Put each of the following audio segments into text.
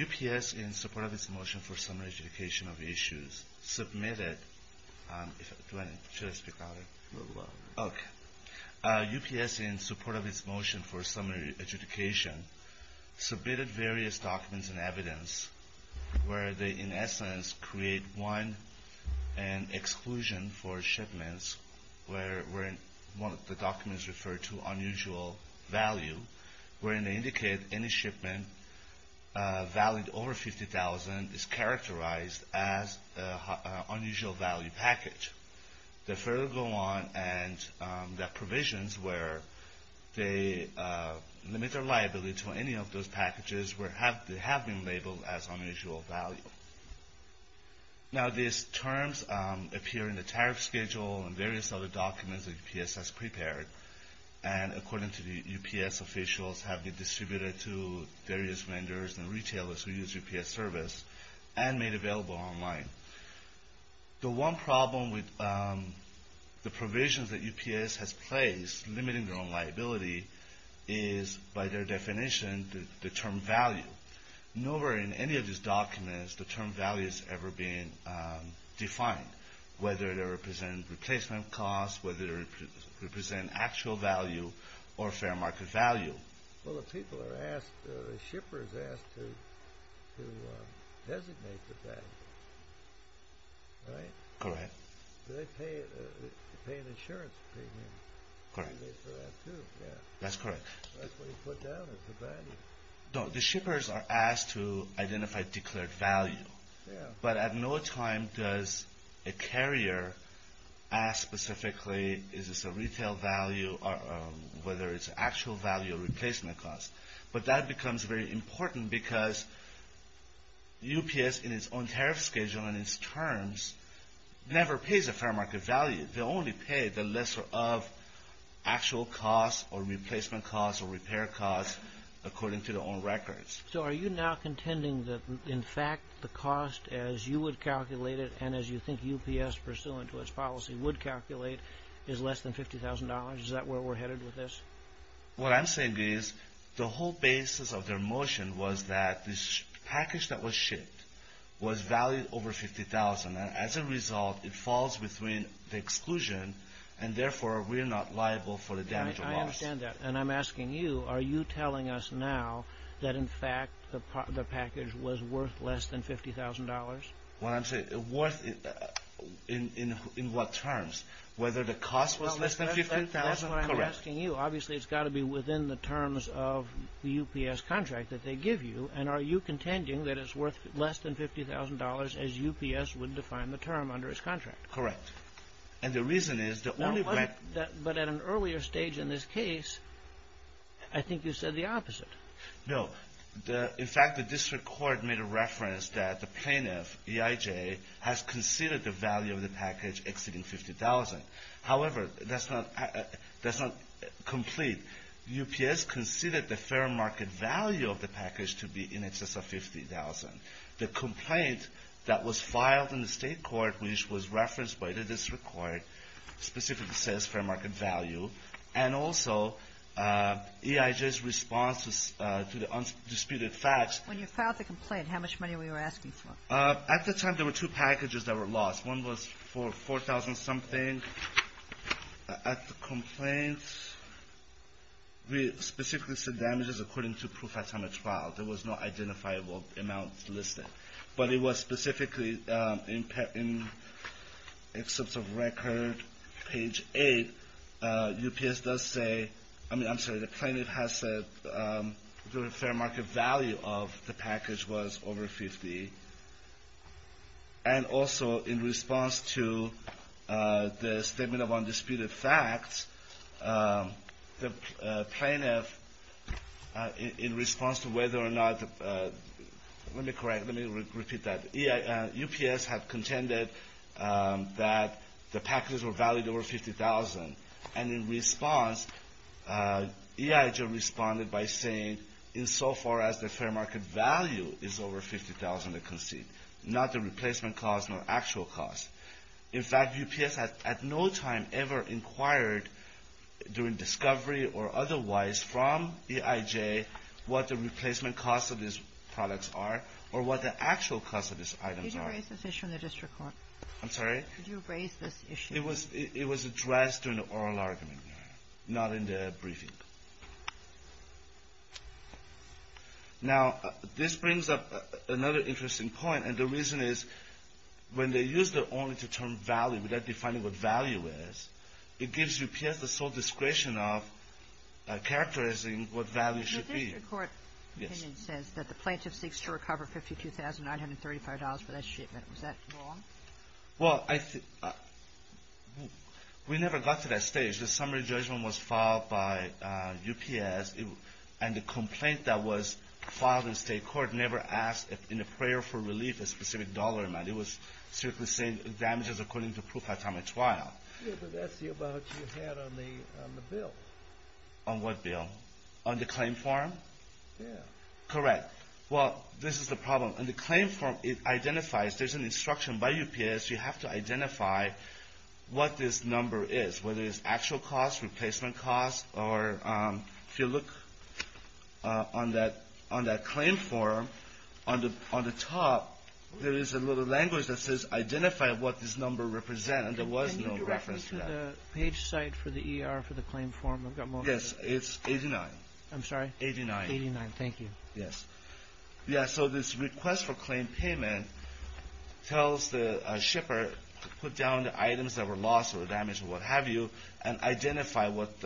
UPS, in support of its motion for summary education of issues, submitted various documents and evidence where they, in essence, create one and exclusion for shipments where the documents refer to unusual value, wherein they indicate any shipment valued over $50,000 is characterized as an unusual value package. They further go on and there are provisions where they limit their liability to any of those packages where they have been labeled as unusual value. Now these terms appear in the tariff schedule and various other documents that UPS has prepared, and according to the UPS officials, have been and made available online. The one problem with the provisions that UPS has placed limiting their own liability is, by their definition, the term value. Nowhere in any of these documents the term value has ever been defined, whether they represent replacement costs, whether they represent actual value or fair market value. Well the people are asked, the shippers are asked to designate the value, right? Correct. Do they pay an insurance premium? Correct. They pay for that too, yeah. That's correct. That's what you put down as the value. No, the shippers are asked to identify declared value. Yeah. But at no time does a carrier ask specifically is this a retail value or whether it's actual value or replacement cost. But that becomes very important because UPS, in its own tariff schedule and its terms, never pays a fair market value. They only pay the lesser of actual costs or replacement costs or repair costs according to their own records. So are you now contending that in fact the cost as you would calculate it and as you think UPS pursuant to its policy would calculate is less than $50,000? Is that where we're headed with this? What I'm saying is the whole basis of their motion was that this package that was shipped was valued over $50,000 and as a result it falls between the exclusion and therefore we're not liable for the damage or loss. I understand that. And I'm asking you, are you telling us now that in fact the package was worth less than $50,000? What I'm saying, worth in what terms? Whether the cost was less than $50,000? That's what I'm asking you. Obviously it's got to be within the terms of the UPS contract that they give you and are you contending that it's worth less than $50,000 as UPS would define the term under its contract? Correct. And the reason is the only way... But at an earlier stage in this case I think you said the opposite. No. In fact the district court made a reference that the plaintiff, EIJ, has considered the value of the package exceeding $50,000. However, that's not complete. UPS considered the fair market value of the package to be in excess of $50,000. The complaint that was filed in And also EIJ's response to the undisputed facts... When you filed the complaint, how much money were you asking for? At the time there were two packages that were lost. One was for $4,000 something. At the complaint we specifically said damages according to proof at time of trial. There was no identifiable amount listed. But it was specifically in excerpts of record page 8, UPS does say... I'm sorry, the plaintiff has said the fair market value of the package was over $50,000. And also in response to the statement of undisputed facts, the plaintiff in response to whether or not... Let me correct. Let me repeat that. UPS had contended that the packages were valued over $50,000. And in response, EIJ responded by saying, insofar as the fair market value is over $50,000 to concede. Not the replacement cost, not actual cost. In fact, UPS at no time ever inquired during discovery or otherwise from EIJ what the replacement cost of these products are or what the actual cost of these items are. Could you erase this issue in the district court? I'm sorry? Could you erase this issue? It was addressed during the oral argument, Your Honor, not in the briefing. Now, this brings up another interesting point. And the reason is when they use the only-to-term value without defining what value is, it gives UPS the sole discretion of characterizing what value should be. The district court opinion says that the plaintiff seeks to recover $52,935 for that wrong? Well, we never got to that stage. The summary judgment was filed by UPS. And the complaint that was filed in state court never asked in a prayer for relief a specific dollar amount. It was simply saying damages according to proof at time of trial. Yeah, but that's the amount you had on the bill. On what bill? On the claim form? Yeah. Correct. Well, this is the problem. On the claim form, it identifies. There's an instruction by UPS. You have to identify what this number is, whether it's actual cost, replacement cost, or if you look on that claim form, on the top, there is a little language that says identify what this number represents. And there was no reference to that. Can you get me to the page site for the ER for the claim form? Yes, it's 89. I'm sorry? 89. 89, thank you. Yes. Yeah, so this request for claim payment tells the shipper to put down the items that were lost or damaged or what have you and identify what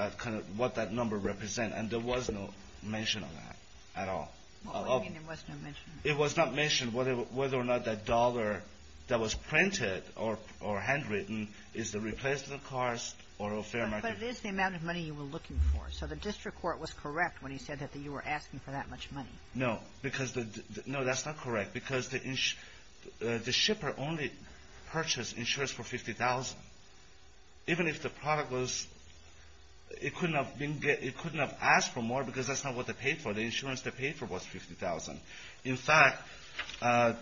that number represents. And there was no mention of that at all. What do you mean there was no mention? It was not mentioned whether or not that dollar that was printed or handwritten is the replacement cost or a fair amount. But it is the amount of money you were looking for. So the district court was correct when he said that you were asking for that much money. No, because the – no, that's not correct. Because the shipper only purchased insurance for $50,000. Even if the product was – it couldn't have been – it couldn't have asked for more because that's not what they paid for. The insurance they paid for was $50,000. In fact, it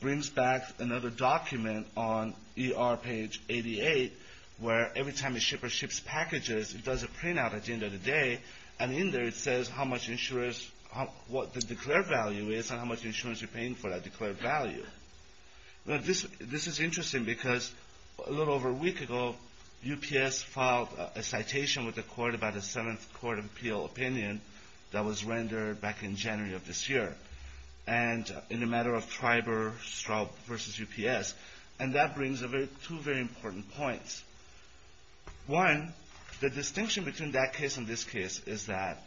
brings back another document on ER page 88 where every time a shipper ships packages, it does a printout at the end of the day. And in there, it says how much insurance – what the declared value is and how much insurance you're paying for that declared value. Now, this is interesting because a little over a week ago, UPS filed a citation with the court about a 7th Court of Appeal opinion that was rendered back in January of this year. And in a matter of TRIBER versus UPS. And that brings two very important points. One, the distinction between that case and this case is that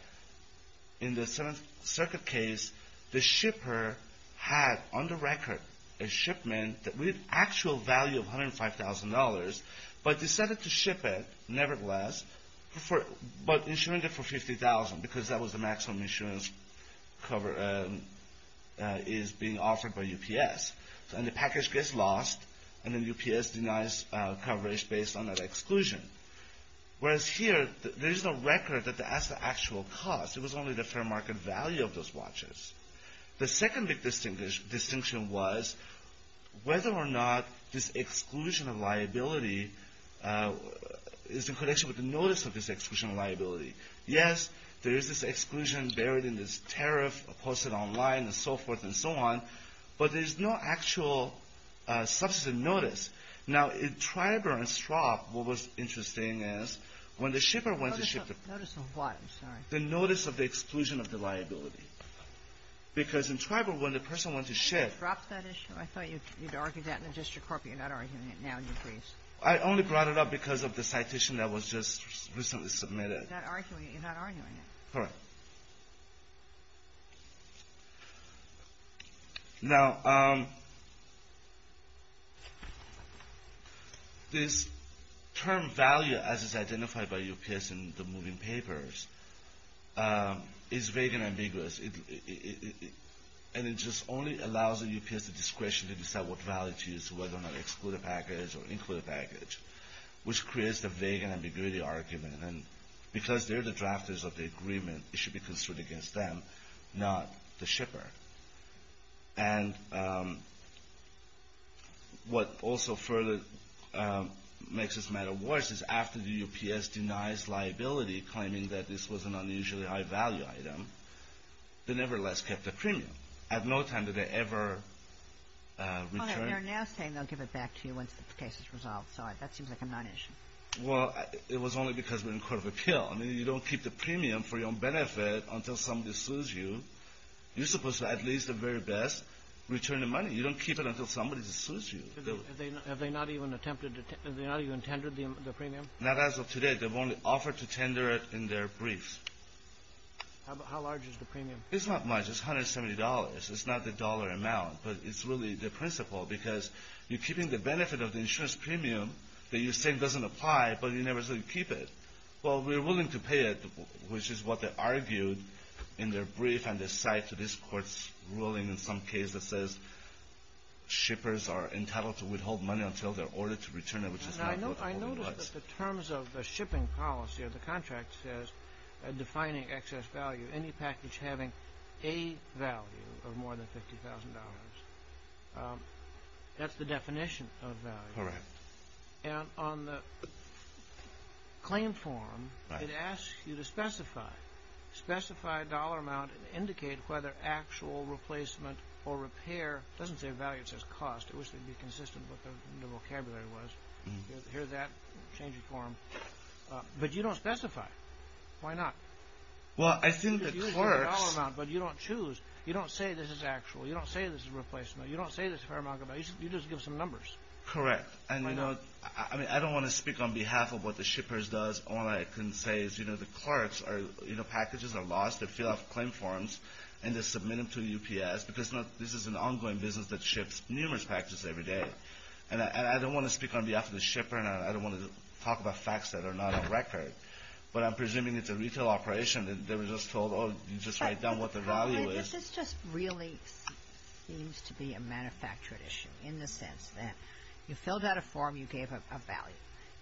in the 7th Circuit case, the shipper had on the record a shipment with actual value of $105,000, but decided to ship it nevertheless, but insuring it for $50,000 because that was the maximum insurance is being offered by UPS. And the package gets lost, and then UPS denies coverage based on that exclusion. Whereas here, there is no record that the actual cost. It was only the fair market value of those watches. The second big distinction was whether or not this exclusion of liability is in connection with the notice of this exclusion of liability. Yes, there is this exclusion buried in this tariff posted online and so forth and so on, but there is no actual substantive notice. Now, in TRIBER and STROP, what was interesting is when the shipper went to ship the — Sotomayor, notice of what? I'm sorry. The notice of the exclusion of the liability. Because in TRIBER, when the person went to ship — You dropped that issue. I thought you had argued that in the district court, but you're not arguing it now. Do you agree? I only brought it up because of the citation that was just recently submitted. You're not arguing it. You're not arguing it. Correct. Now, this term value, as is identified by UPS in the moving papers, is vague and ambiguous. And it just only allows the UPS the discretion to decide what value to use, whether or not to exclude a package or include a package, which creates the vague and ambiguity argument. And because they're the drafters of the agreement, it should be construed against them, not the shipper. And what also further makes this matter worse is after the UPS denies liability, claiming that this was an unusually high-value item, they nevertheless kept the premium. At no time did they ever return — Your Honor, we are now saying they'll give it back to you once the case is resolved. Sorry. That seems like a non-issue. Well, it was only because we're in court of appeal. I mean, you don't keep the premium for your own benefit until somebody sues you. You're supposed to, at least at the very best, return the money. You don't keep it until somebody sues you. Have they not even attempted to — have they not even tendered the premium? Not as of today. They've only offered to tender it in their briefs. How large is the premium? It's not much. It's $170. It's not the dollar amount. But it's really the principle, because you're keeping the benefit of the insurance premium that you're saying doesn't apply, but you never say you keep it. Well, we're willing to pay it, which is what they argued in their brief, and this side to this Court's ruling in some case that says shippers are entitled to withhold money until they're ordered to return it, which is not what the rule was. I noticed that the terms of the shipping policy of the contract says defining excess value, any package having a value of more than $50,000. That's the definition of value. Correct. And on the claim form, it asks you to specify, specify dollar amount and indicate whether actual replacement or repair — it doesn't say value, it says cost. I wish they'd be consistent with what the vocabulary was. Here's that changing form. But you don't specify. Why not? Well, I think the clerks — It's usually dollar amount, but you don't choose. You don't say this is actual. You don't say this is replacement. You don't say this is a fair amount. You just give some numbers. Correct. And, you know, I don't want to speak on behalf of what the shippers does. All I can say is, you know, the clerks are, you know, packages are lost. They fill out claim forms, and they submit them to UPS, because this is an ongoing business that ships numerous packages every day. And I don't want to speak on behalf of the shipper, and I don't want to talk about facts that are not on record. But I'm presuming it's a retail operation. They were just told, oh, you just write down what the value is. This just really seems to be a manufactured issue, in the sense that you filled out a form, you gave a value.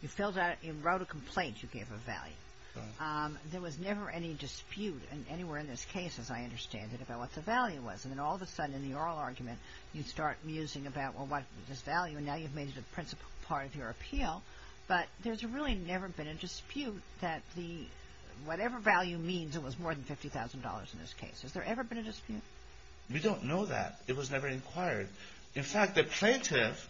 You filled out — you wrote a complaint, you gave a value. There was never any dispute anywhere in this case, as I understand it, about what the value was. And then all of a sudden, in the oral argument, you start musing about, well, what is this value? And now you've made it a principal part of your appeal. But there's really never been a dispute that whatever value means it was more than $50,000 in this case. Has there ever been a dispute? We don't know that. It was never inquired. In fact, the plaintiff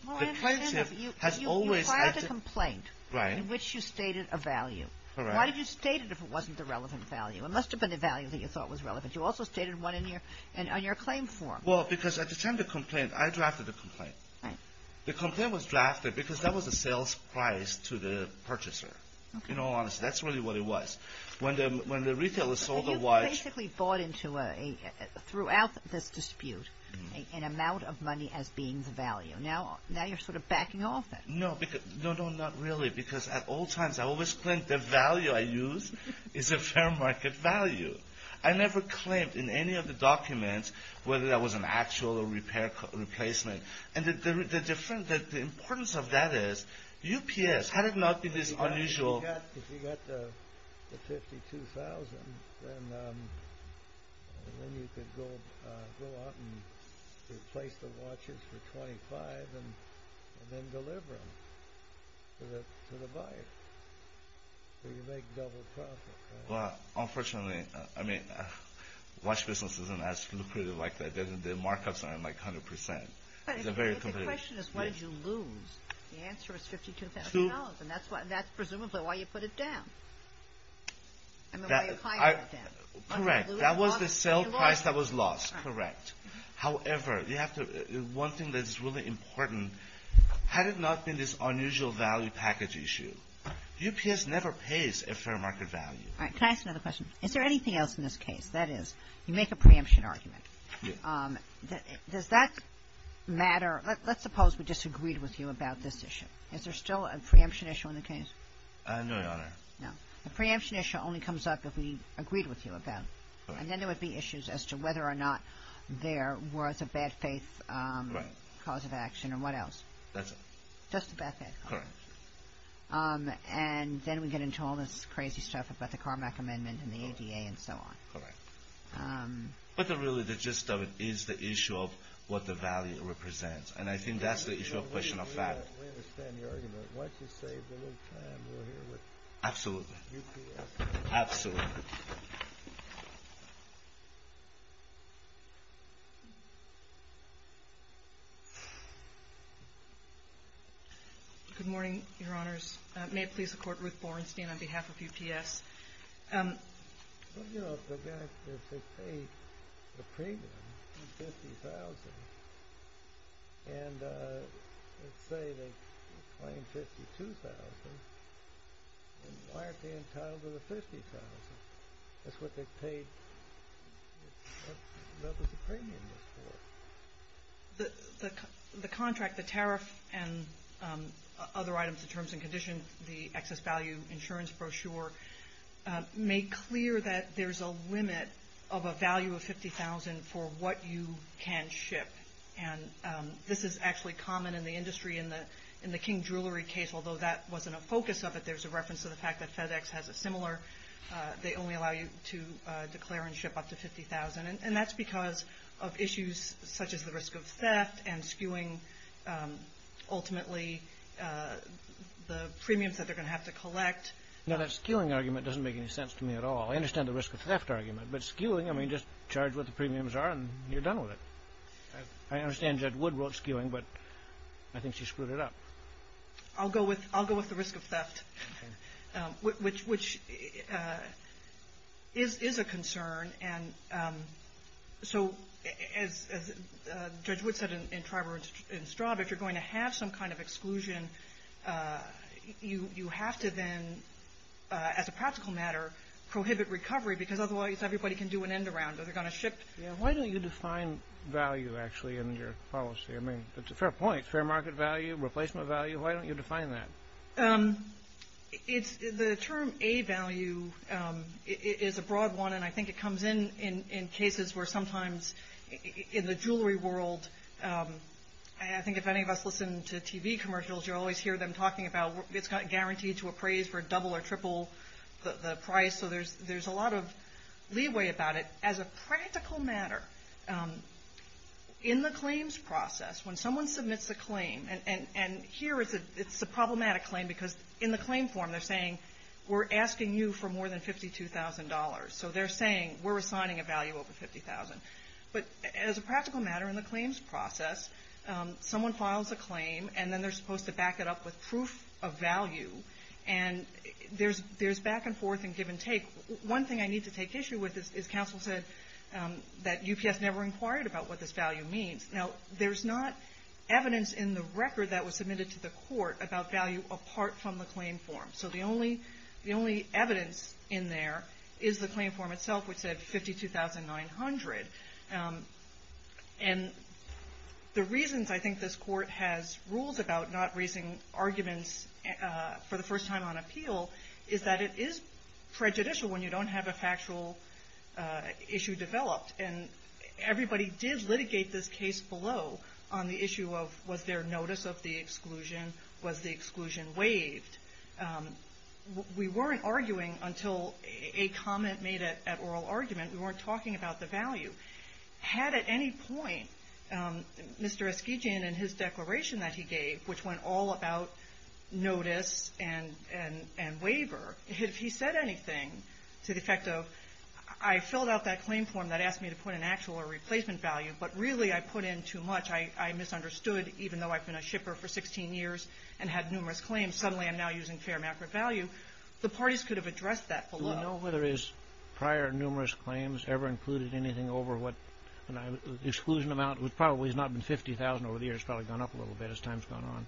has always — You filed a complaint in which you stated a value. Correct. Why did you state it if it wasn't a relevant value? It must have been a value that you thought was relevant. You also stated one on your claim form. Well, because at the time of the complaint, I drafted the complaint. Right. The complaint was drafted because that was the sales price to the purchaser. In all honesty, that's really what it was. When the retailer sold the watch — So you basically bought into a — throughout this dispute an amount of money as being the value. Now you're sort of backing off that. No, because — no, no, not really. Because at all times, I always claimed the value I used is a fair market value. I never claimed in any of the documents whether that was an actual or repair — replacement. And the difference — the importance of that is UPS. Had it not been this unusual — If you got the $52,000, then you could go out and replace the watches for $25,000 and then deliver them to the buyer. So you make double profit. Well, unfortunately, I mean, watch business isn't as lucrative like that. The markups aren't, like, 100 percent. But the question is, why did you lose? The answer is $52,000. And that's presumably why you put it down. I mean, why you hired them. Correct. That was the sale price that was lost. Correct. However, you have to — one thing that is really important, had it not been this unusual value package issue, UPS never pays a fair market value. All right. Can I ask another question? Is there anything else in this case? That is, you make a preemption argument. Yes. Does that matter? Let's suppose we disagreed with you about this issue. Is there still a preemption issue in the case? No, Your Honor. No. The preemption issue only comes up if we agreed with you about it. And then there would be issues as to whether or not there was a bad faith cause of action or what else. That's it. Just a bad faith cause of action. Correct. And then we get into all this crazy stuff about the Carmack Amendment and the ADA and so on. Correct. But really, the gist of it is the issue of what the value represents. And I think that's the issue of question of fact. We understand the argument. Why don't you say the whole time we're here with UPS? Absolutely. Absolutely. Good morning, Your Honors. May it please the Court, Ruth Borenstein on behalf of UPS. Well, you know, if they paid the premium of $50,000, and let's say they claim $52,000, then why aren't they entitled to the $50,000? That's what they paid the premium for. The contract, the tariff, and other items, the terms and conditions, the excess value insurance brochure, make clear that there's a limit of a value of $50,000 for what you can ship. And this is actually common in the industry. In the King Jewelry case, although that wasn't a focus of it, there's a reference to the fact that FedEx has a similar. They only allow you to declare and ship up to $50,000. And that's because of issues such as the risk of theft and skewing, ultimately, the premiums that they're going to have to collect. Now, that skewing argument doesn't make any sense to me at all. I understand the risk of theft argument. But skewing, I mean, just charge what the premiums are, and you're done with it. I understand Judge Wood wrote skewing, but I think she screwed it up. I'll go with the risk of theft, which is a concern. And so as Judge Wood said in Tribor and Straub, if you're going to have some kind of exclusion, you have to then, as a practical matter, prohibit recovery because otherwise everybody can do an end around, or they're going to ship. Why don't you define value, actually, in your policy? I mean, it's a fair point, fair market value, replacement value. Why don't you define that? The term A value is a broad one, and I think it comes in in cases where sometimes in the jewelry world, I think if any of us listen to TV commercials, you always hear them talking about it's guaranteed to appraise for double or triple the price. So there's a lot of leeway about it. As a practical matter, in the claims process, when someone submits a claim, and here it's a problematic claim because in the claim form, they're saying we're asking you for more than $52,000. So they're saying we're assigning a value over $50,000. But as a practical matter in the claims process, someone files a claim, and then they're supposed to back it up with proof of value. And there's back and forth and give and take. One thing I need to take issue with is counsel said that UPS never inquired about what this value means. Now, there's not evidence in the record that was submitted to the court about value apart from the claim form. So the only evidence in there is the claim form itself, which said $52,900. And the reasons I think this court has rules about not raising arguments for the first time on appeal is that it is prejudicial when you don't have a factual issue developed. And everybody did litigate this case below on the issue of was there notice of the exclusion, was the exclusion waived. We weren't arguing until a comment made at oral argument. We weren't talking about the value. Had at any point Mr. Eskegian and his declaration that he gave, which went all about notice and waiver, if he said anything to the effect of I filled out that claim form that asked me to put an actual or replacement value, but really I put in too much, I misunderstood, even though I've been a shipper for 16 years and had numerous claims, suddenly I'm now using fair macro value, the parties could have addressed that below. Do we know whether his prior numerous claims ever included anything over what exclusion amount, which probably has not been $50,000 over the years, probably gone up a little bit as time's gone on.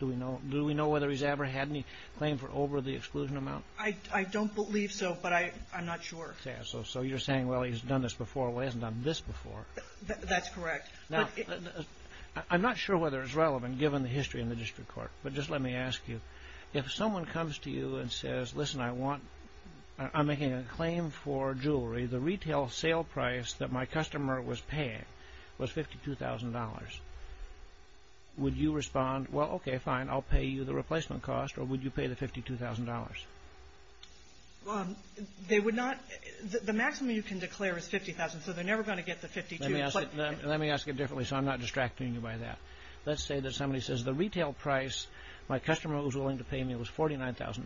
Do we know whether he's ever had any claim for over the exclusion amount? I don't believe so, but I'm not sure. So you're saying, well, he's done this before, well, he hasn't done this before. That's correct. I'm not sure whether it's relevant given the history in the district court, but just let me ask you. If someone comes to you and says, listen, I want, I'm making a claim for jewelry, the retail sale price that my customer was paying was $52,000. Would you respond, well, okay, fine, I'll pay you the replacement cost, or would you pay the $52,000? They would not, the maximum you can declare is $50,000, so they're never going to get the $52,000. Let me ask it differently so I'm not distracting you by that. Let's say that somebody says the retail price my customer was willing to pay me was $49,000,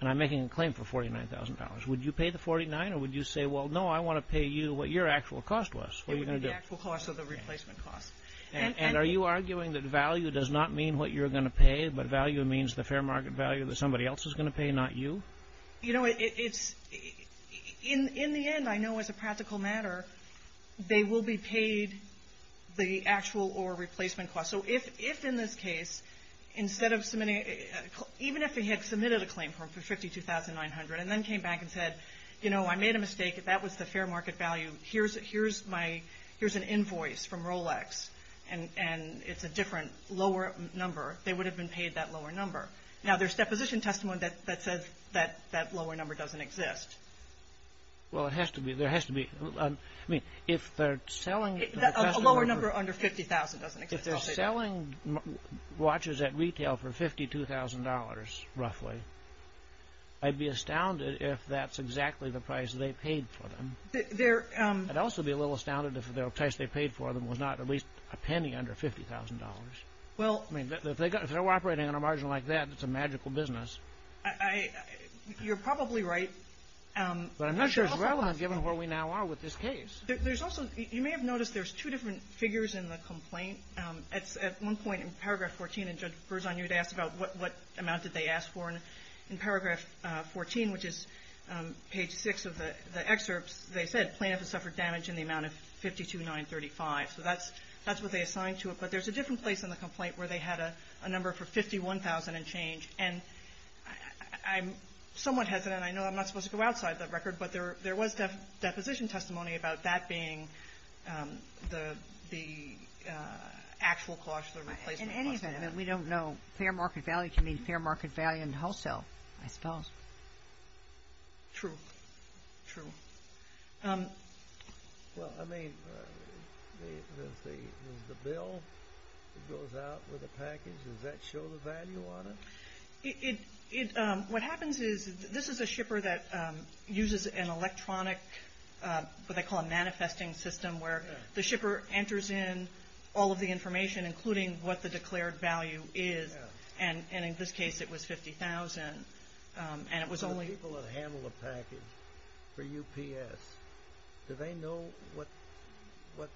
and I'm making a claim for $49,000. Would you pay the $49,000, or would you say, well, no, I want to pay you what your actual cost was? It would be the actual cost or the replacement cost. And are you arguing that value does not mean what you're going to pay, but value means the fair market value that somebody else is going to pay, not you? You know, it's, in the end, I know as a practical matter, they will be paid the actual or replacement cost. So if in this case, instead of submitting, even if they had submitted a claim for $52,900 and then came back and said, you know, I made a mistake, that was the fair market value, here's an invoice from Rolex, and it's a different, lower number, they would have been paid that lower number. Now, there's deposition testimony that says that that lower number doesn't exist. Well, it has to be. There has to be. I mean, if they're selling the customer. A lower number under $50,000 doesn't exist. If they're selling watches at retail for $52,000, roughly, I'd be astounded if that's exactly the price they paid for them. I'd also be a little astounded if the price they paid for them was not at least a penny under $50,000. Well. I mean, if they're operating on a margin like that, it's a magical business. You're probably right. But I'm not sure it's relevant given where we now are with this case. There's also you may have noticed there's two different figures in the complaint. At one point in paragraph 14, and Judge Berzon, you had asked about what amount did they ask for. And in paragraph 14, which is page 6 of the excerpts, they said plaintiff has suffered damage in the amount of $52,935. So that's what they assigned to it. But there's a different place in the complaint where they had a number for $51,000 and change. And I'm somewhat hesitant. I know I'm not supposed to go outside the record, but there was deposition testimony about that being the actual cost, the replacement cost. In any event, we don't know. Fair market value can mean fair market value in wholesale, I suppose. True. True. Well, I mean, is the bill that goes out with the package, does that show the value on it? What happens is this is a shipper that uses an electronic, what they call a manifesting system, where the shipper enters in all of the information, including what the declared value is. And in this case, it was $50,000. So the people that handle the package for UPS, do they know what the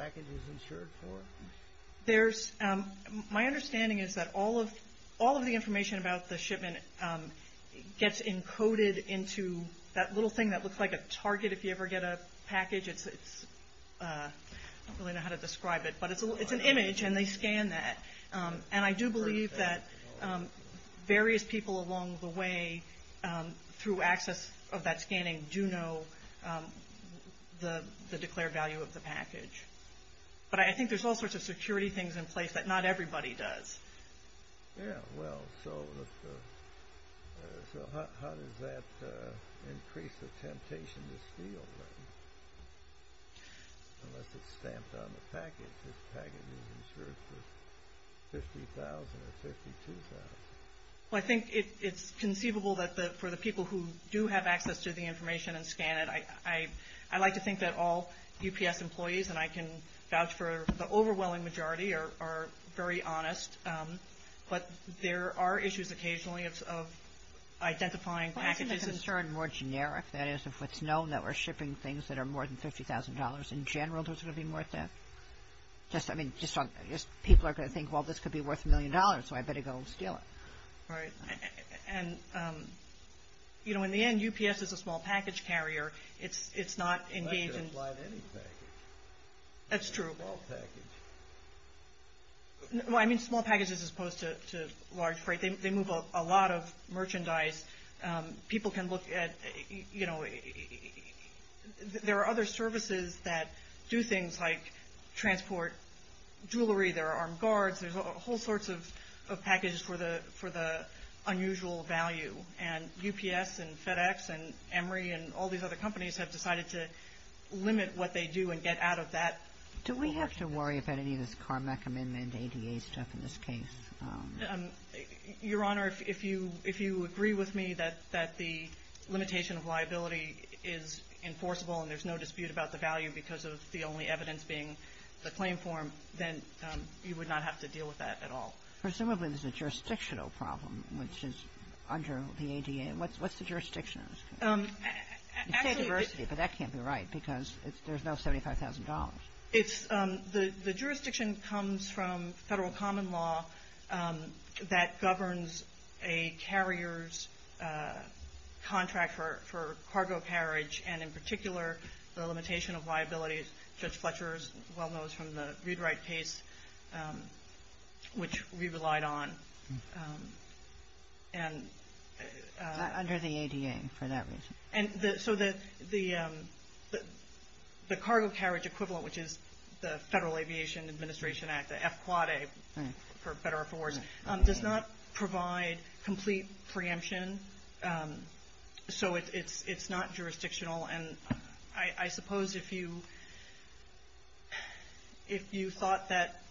package is insured for? My understanding is that all of the information about the shipment gets encoded into that little thing that looks like a target if you ever get a package. I don't really know how to describe it. But it's an image, and they scan that. And I do believe that various people along the way through access of that scanning do know the declared value of the package. But I think there's all sorts of security things in place that not everybody does. Yeah, well, so how does that increase the temptation to steal, then? Unless it's stamped on the package, this package is insured for $50,000 or $52,000. Well, I think it's conceivable that for the people who do have access to the information and scan it, I like to think that all UPS employees, and I can vouch for the overwhelming majority, are very honest. But there are issues occasionally of identifying packages. It's a concern more generic. That is, if it's known that we're shipping things that are more than $50,000, in general, is it going to be worth that? I mean, people are going to think, well, this could be worth a million dollars, so I better go steal it. Right. And, you know, in the end, UPS is a small package carrier. It's not engaged in – That's true. Well, I mean, small packages as opposed to large freight. They move a lot of merchandise. People can look at – you know, there are other services that do things like transport jewelry. There are armed guards. There's whole sorts of packages for the unusual value. And UPS and FedEx and Emory and all these other companies have decided to limit what they do and get out of that. Do we have to worry about any of this CARMEC amendment ADA stuff in this case? Your Honor, if you – if you agree with me that the limitation of liability is enforceable and there's no dispute about the value because of the only evidence being the claim form, then you would not have to deal with that at all. Presumably, there's a jurisdictional problem, which is under the ADA. What's the jurisdiction? Actually – You say diversity, but that can't be right because there's no $75,000. It's – the jurisdiction comes from federal common law that governs a carrier's contract for cargo carriage. And in particular, the limitation of liability, Judge Fletcher is well-known from the ReadWrite case, which we relied on. Under the ADA for that reason. And so the cargo carriage equivalent, which is the Federal Aviation Administration Act, the FAAA, for better or for worse, does not provide complete preemption, so it's not jurisdictional. And I suppose if you – if you thought that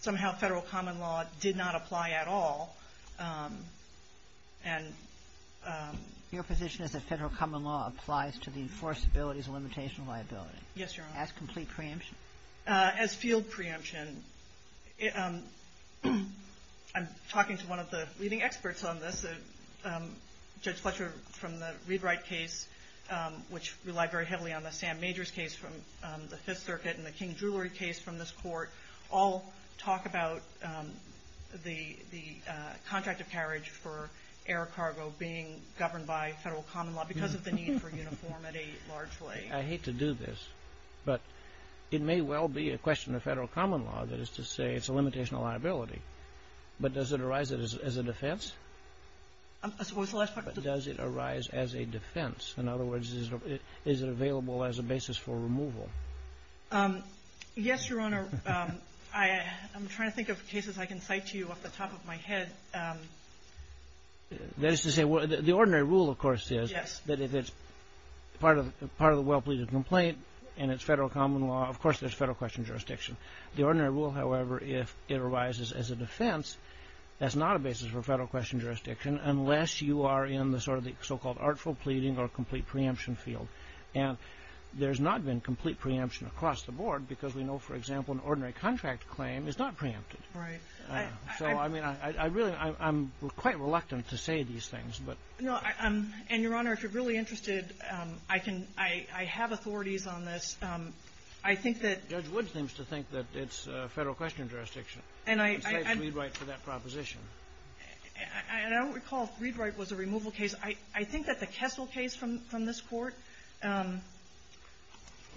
somehow federal common law did not apply at all and – Your position is that federal common law applies to the enforceability as a limitation of liability? Yes, Your Honor. As complete preemption? As field preemption. I'm talking to one of the leading experts on this, Judge Fletcher, from the ReadWrite case, which relied very heavily on the Sam Majors case from the Fifth Circuit and the King Jewelry case from this court, all talk about the contract of carriage for air cargo being governed by federal common law because of the need for uniformity, largely. I hate to do this, but it may well be a question of federal common law, that is to say it's a limitation of liability. But does it arise as a defense? What was the last part? Does it arise as a defense? In other words, is it available as a basis for removal? Yes, Your Honor. I'm trying to think of cases I can cite to you off the top of my head. That is to say, the ordinary rule, of course, is that if it's part of – part of the well-pleaded complaint and it's federal common law, of course, there's federal question jurisdiction. The ordinary rule, however, if it arises as a defense, that's not a basis for federal question jurisdiction unless you are in the sort of the so-called artful pleading or complete preemption field. And there's not been complete preemption across the board because we know, for example, an ordinary contract claim is not preempted. Right. So, I mean, I really – I'm quite reluctant to say these things. No. And, Your Honor, if you're really interested, I can – I have authorities on this. I think that – Judge Wood seems to think that it's federal question jurisdiction. And I – And I cite Readwright for that proposition. And I don't recall if Readwright was a removal case. I think that the Kessel case from this Court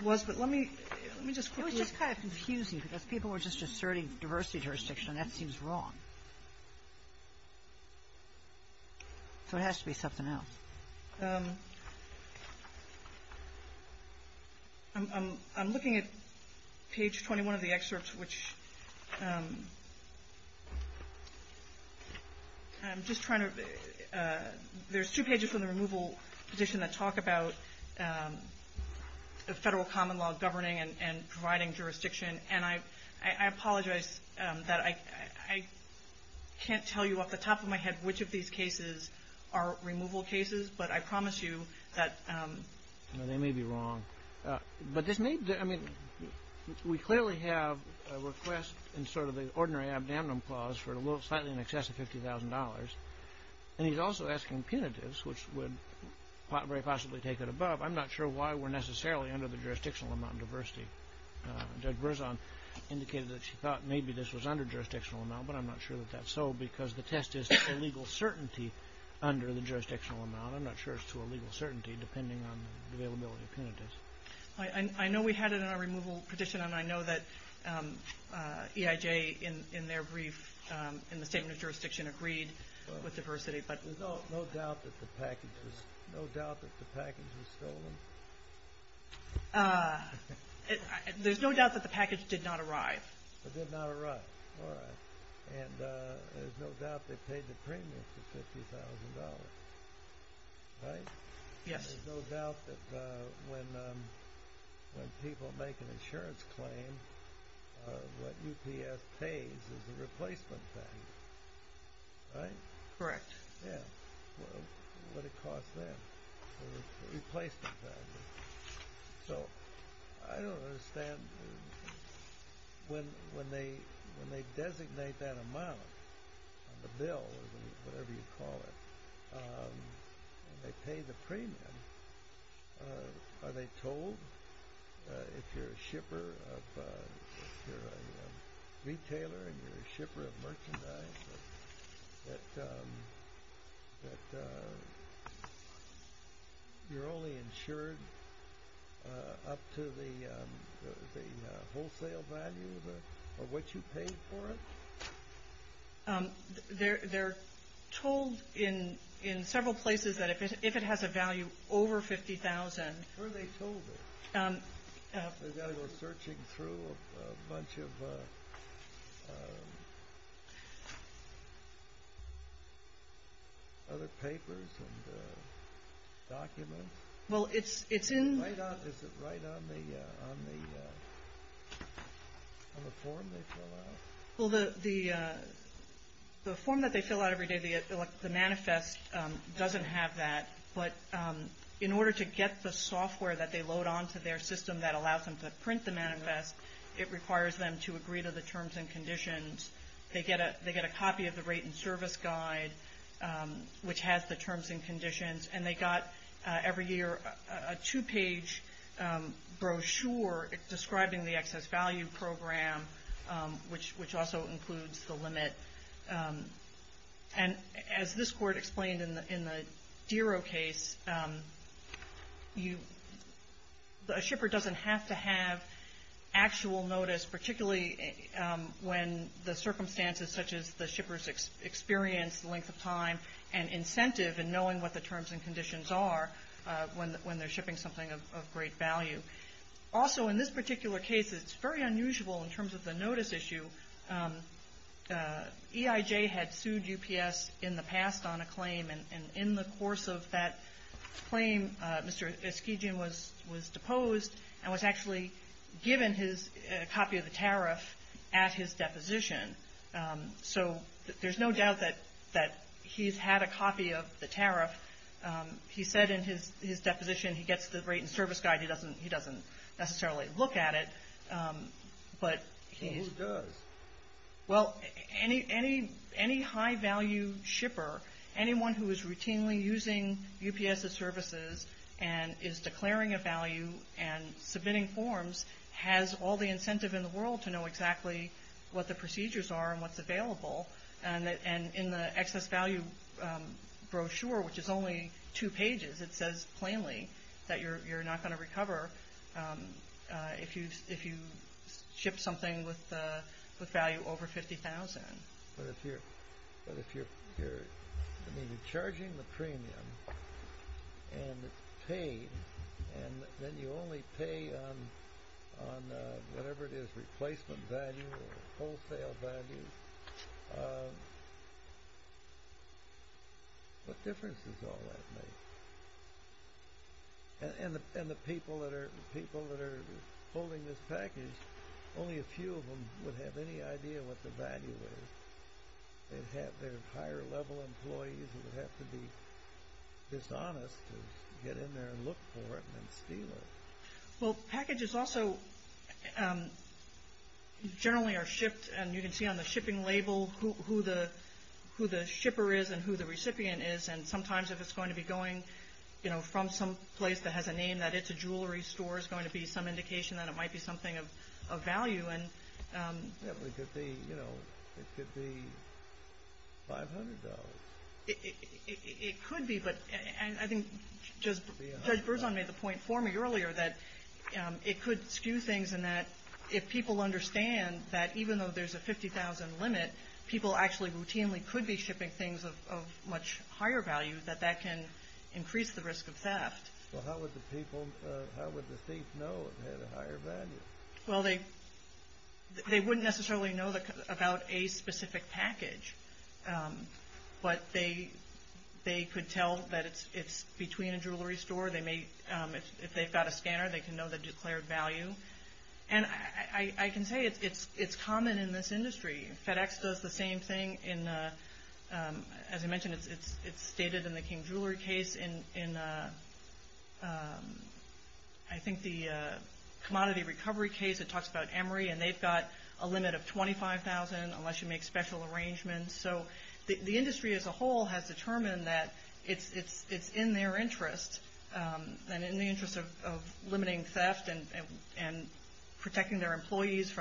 was, but let me – let me just quickly It was just kind of confusing because people were just asserting diversity jurisdiction, and that seems wrong. So it has to be something else. I'm looking at page 21 of the excerpt, which – I'm just trying to – there's two pages from the removal petition that talk about federal common law governing and providing jurisdiction. And I apologize that I can't tell you off the top of my head which of these cases are removal cases, but I promise you that – No, they may be wrong. But this may – I mean, we clearly have a request in sort of the ordinary abdominum clause for slightly in excess of $50,000. And he's also asking punitives, which would very possibly take it above. I'm not sure why we're necessarily under the jurisdictional amount of diversity. Judge Berzon indicated that she thought maybe this was under jurisdictional amount, but I'm not sure that that's so because the test is to a legal certainty under the jurisdictional amount. I'm not sure it's to a legal certainty depending on the availability of punitives. I know we had it in our removal petition, and I know that EIJ, in their brief, in the statement of jurisdiction, agreed with diversity, but – There's no doubt that the package was – no doubt that the package was stolen? There's no doubt that the package did not arrive. It did not arrive. All right. And there's no doubt they paid the premium for $50,000, right? Yes. And there's no doubt that when people make an insurance claim, what UPS pays is a replacement fee, right? Correct. Yes. Well, what it costs them, the replacement value. So I don't understand. When they designate that amount on the bill or whatever you call it, and they pay the premium, are they told if you're a shipper of – that you're only insured up to the wholesale value of what you paid for it? They're told in several places that if it has a value over $50,000 – Where are they told it? Are they searching through a bunch of other papers and documents? Well, it's in – Is it right on the form they fill out? Well, the form that they fill out every day, the manifest, doesn't have that. But in order to get the software that they load onto their system that allows them to print the manifest, it requires them to agree to the terms and conditions. They get a copy of the rate and service guide, which has the terms and conditions. And they got every year a two-page brochure describing the excess value program, which also includes the limit. And as this Court explained in the Dero case, a shipper doesn't have to have actual notice, particularly when the circumstances such as the shipper's experience, length of time, and incentive in knowing what the terms and conditions are when they're shipping something of great value. Also, in this particular case, it's very unusual in terms of the notice issue. EIJ had sued UPS in the past on a claim. And in the course of that claim, Mr. Eskejian was deposed and was actually given his copy of the tariff at his deposition. So there's no doubt that he's had a copy of the tariff. He said in his deposition he gets the rate and service guide. He doesn't necessarily look at it. Who does? Well, any high-value shipper, anyone who is routinely using UPS's services and is declaring a value and submitting forms, has all the incentive in the world to know exactly what the procedures are and what's available. And in the excess value brochure, which is only two pages, it says plainly that you're not going to recover if you ship something with value over $50,000. But if you're charging the premium and it's paid, and then you only pay on whatever it is, replacement value or wholesale value, what difference does all that make? And the people that are holding this package, only a few of them would have any idea what the value is. They'd have their higher-level employees who would have to be dishonest to get in there and look for it and then steal it. Well, packages also generally are shipped, and you can see on the shipping label who the shipper is and who the recipient is. And sometimes if it's going to be going from some place that has a name that it's a jewelry store, it's going to be some indication that it might be something of value. It could be $500. It could be, but I think Judge Berzon made the point for me earlier that it could skew things in that if people understand that even though there's a $50,000 limit, people actually routinely could be shipping things of much higher value, that that can increase the risk of theft. Well, how would the thief know it had a higher value? Well, they wouldn't necessarily know about a specific package, but they could tell that it's between a jewelry store. If they've got a scanner, they can know the declared value. And I can say it's common in this industry. FedEx does the same thing. As I mentioned, it's stated in the King Jewelry case. In I think the commodity recovery case, it talks about Emory, and they've got a limit of $25,000 unless you make special arrangements. And so the industry as a whole has determined that it's in their interest and in the interest of limiting theft and protecting their employees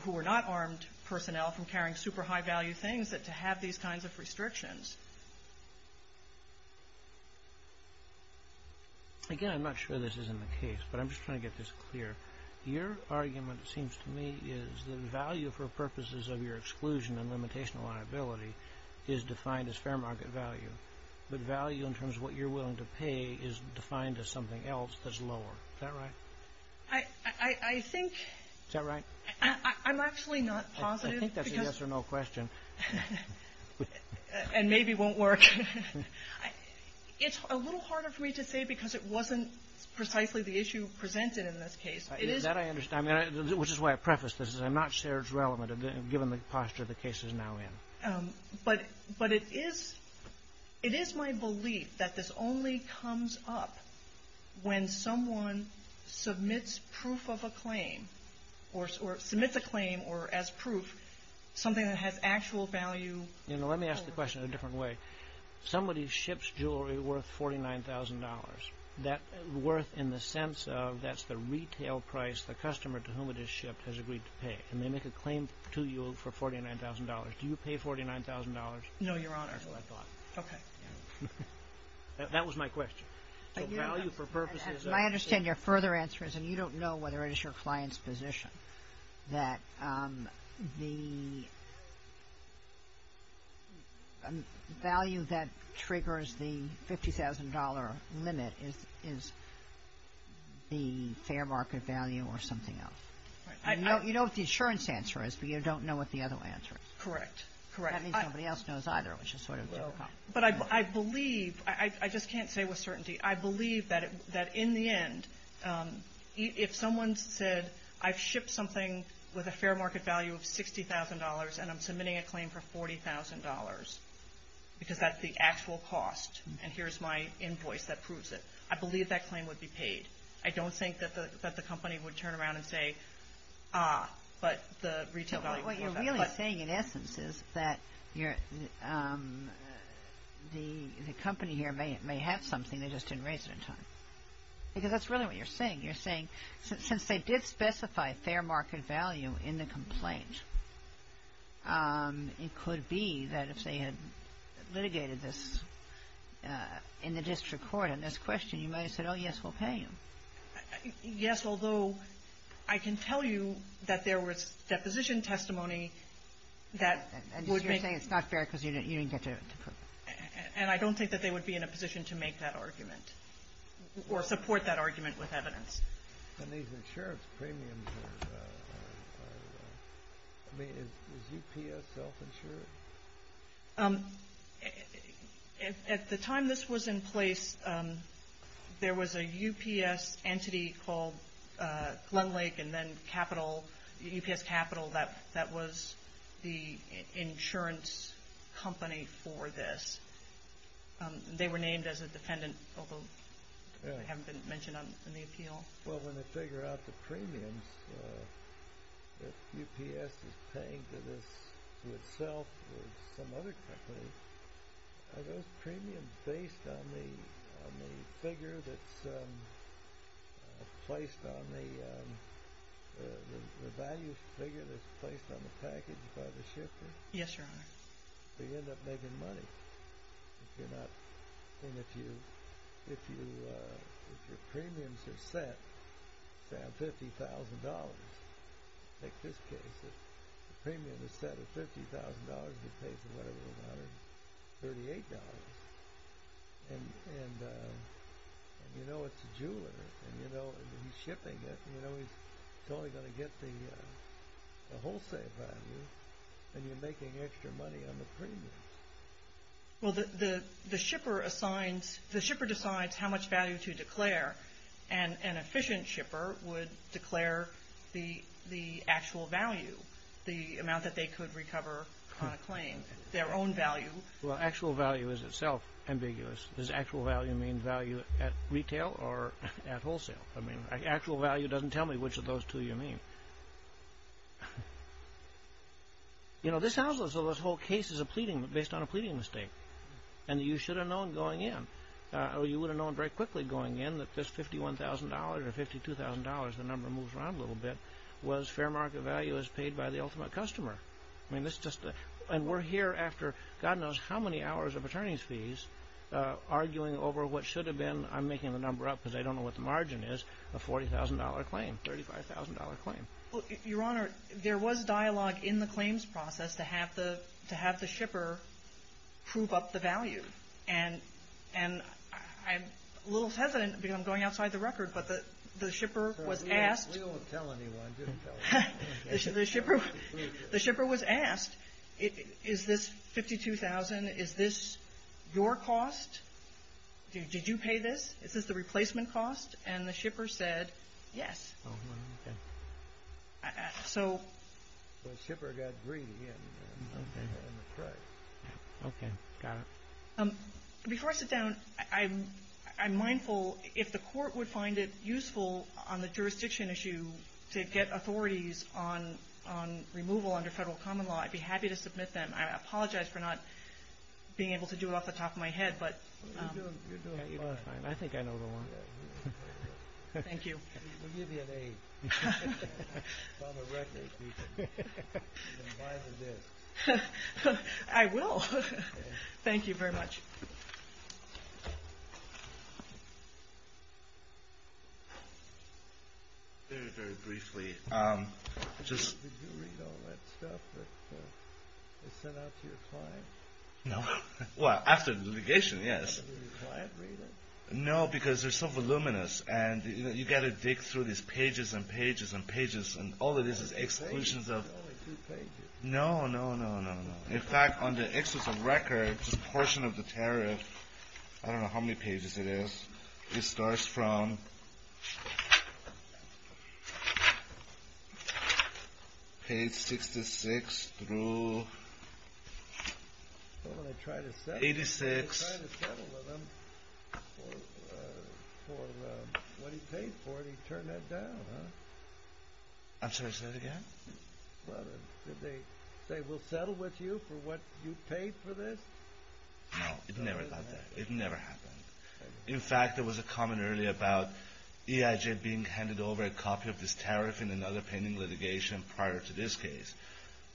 who are not armed personnel from carrying super high-value things to have these kinds of restrictions. Again, I'm not sure this is in the case, but I'm just trying to get this clear. Your argument, it seems to me, is that value for purposes of your exclusion and limitation of liability is defined as fair market value, but value in terms of what you're willing to pay is defined as something else that's lower. Is that right? I think — Is that right? I'm actually not positive. I think that's a yes or no question. And maybe won't work. It's a little harder for me to say because it wasn't precisely the issue presented in this case. That I understand, which is why I prefaced this. I'm not sure it's relevant given the posture the case is now in. But it is my belief that this only comes up when someone submits proof of a claim or submits a claim as proof, something that has actual value. Let me ask the question in a different way. Somebody ships jewelry worth $49,000, worth in the sense of that's the retail price the customer to whom it is shipped has agreed to pay. And they make a claim to you for $49,000. Do you pay $49,000? No, Your Honor. That's what I thought. Okay. That was my question. So value for purposes of — I understand your further answer is, and you don't know whether it is your client's position, that the value that triggers the $50,000 limit is the fair market value or something else. You know what the insurance answer is, but you don't know what the other answer is. Correct. That means nobody else knows either, which is sort of difficult. But I believe — I just can't say with certainty. I believe that in the end, if someone said I've shipped something with a fair market value of $60,000 and I'm submitting a claim for $40,000 because that's the actual cost and here's my invoice that proves it, I believe that claim would be paid. I don't think that the company would turn around and say, ah, but the retail value — What you're really saying, in essence, is that the company here may have something, they just didn't raise it in time. Because that's really what you're saying. You're saying since they did specify fair market value in the complaint, it could be that if they had litigated this in the district court on this question, you might have said, oh, yes, we'll pay you. Yes, although I can tell you that there was deposition testimony that would make — And you're saying it's not fair because you didn't get to prove it. And I don't think that they would be in a position to make that argument or support that argument with evidence. And these insurance premiums are — I mean, is UPS self-insured? At the time this was in place, there was a UPS entity called Glenlake and then Capital, UPS Capital, that was the insurance company for this. They were named as a defendant, although they haven't been mentioned in the appeal. Well, when they figure out the premiums, if UPS is paying for this to itself with some other company, are those premiums based on the figure that's placed on the — the value figure that's placed on the package by the shipper? Yes, Your Honor. So you end up making money. If you're not — I mean, if you — if your premiums are set, say, on $50,000, take this case, if the premium is set at $50,000, you're paid for whatever it was, $138. And you know it's a jeweler, and you know he's shipping it, and you know he's totally going to get the wholesale value, and you're making extra money on the premiums. Well, the shipper assigns — the shipper decides how much value to declare, and an efficient shipper would declare the actual value, the amount that they could recover on a claim, their own value. Well, actual value is itself ambiguous. Does actual value mean value at retail or at wholesale? I mean, actual value doesn't tell me which of those two you mean. You know, this household, so this whole case is a pleading — based on a pleading mistake. And you should have known going in, or you would have known very quickly going in, that this $51,000 or $52,000, the number moves around a little bit, was fair market value as paid by the ultimate customer. I mean, this just — and we're here after God knows how many hours of attorney's fees, arguing over what should have been — I'm making the number up because I don't know what the margin is — a $40,000 claim, $35,000 claim. Your Honor, there was dialogue in the claims process to have the shipper prove up the value. And I'm a little hesitant because I'm going outside the record, but the shipper was asked — We don't tell anyone. The shipper was asked, is this $52,000? Is this your cost? Did you pay this? Is this the replacement cost? And the shipper said yes. Oh, okay. So — Well, the shipper got greedy in the price. Okay, got it. Before I sit down, I'm mindful, if the court would find it useful on the jurisdiction issue to get authorities on removal under federal common law, I'd be happy to submit them. I apologize for not being able to do it off the top of my head, but — You're doing fine. I think I know the one. Thank you. We'll give you an A on the record. You can buy the disk. I will. Thank you very much. Very, very briefly, just — Did you read all that stuff that they sent out to your client? No. Well, after the litigation, yes. Did your client read it? No, because they're so voluminous. And you've got to dig through these pages and pages and pages. And all it is is exclusions of — There's only two pages. No, no, no, no, no. In fact, on the exclusions of records, this portion of the tariff, I don't know how many pages it is. It starts from page 66 through 86. So when they tried to settle with him for what he paid for it, he turned that down, huh? I'm sorry, say that again? Well, did they say, we'll settle with you for what you paid for this? No, it never got that. It never happened. In fact, there was a comment earlier about EIJ being handed over a copy of this tariff in another pending litigation prior to this case.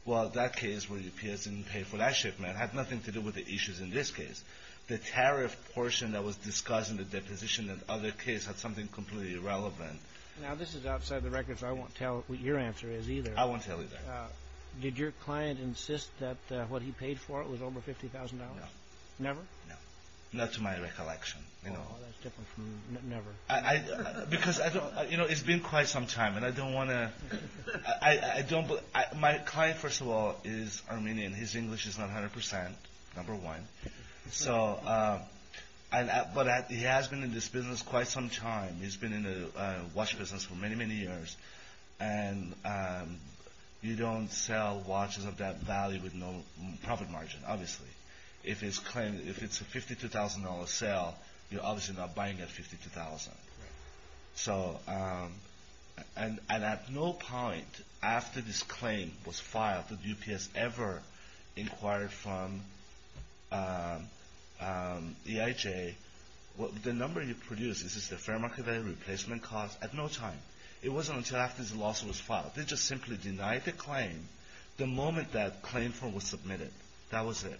Well, that case where the P.S. didn't pay for that shipment had nothing to do with the issues in this case. The tariff portion that was discussed in the deposition in the other case had something completely irrelevant. Now, this is outside the records. I won't tell what your answer is either. I won't tell either. Did your client insist that what he paid for it was over $50,000? No. Never? No, not to my recollection. Well, that's different from never. Because it's been quite some time, and I don't want to — My client, first of all, is Armenian. His English is not 100 percent, number one. But he has been in this business quite some time. He's been in the watch business for many, many years. And you don't sell watches of that value with no profit margin, obviously. If it's a $52,000 sale, you're obviously not buying at $52,000. Right. The number you produce is the fair market value replacement cost at no time. It wasn't until after this lawsuit was filed. They just simply denied the claim the moment that claim form was submitted. That was it.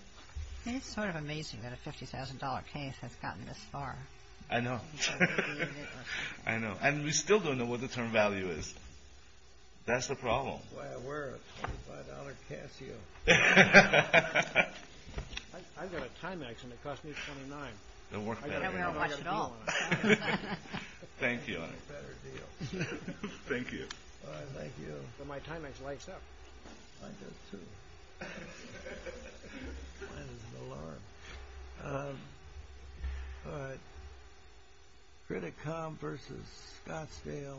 It's sort of amazing that a $50,000 case has gotten this far. I know. I know. And we still don't know what the term value is. That's the problem. That's why I wear a $25 Casio. I've got a Timex, and it cost me $29. They'll work better. We don't have a watch at all. Thank you. Better deal. Thank you. All right. Thank you. My Timex lights up. Mine does, too. Mine is an alarm. All right. Criticom versus Scottsdale Insurance.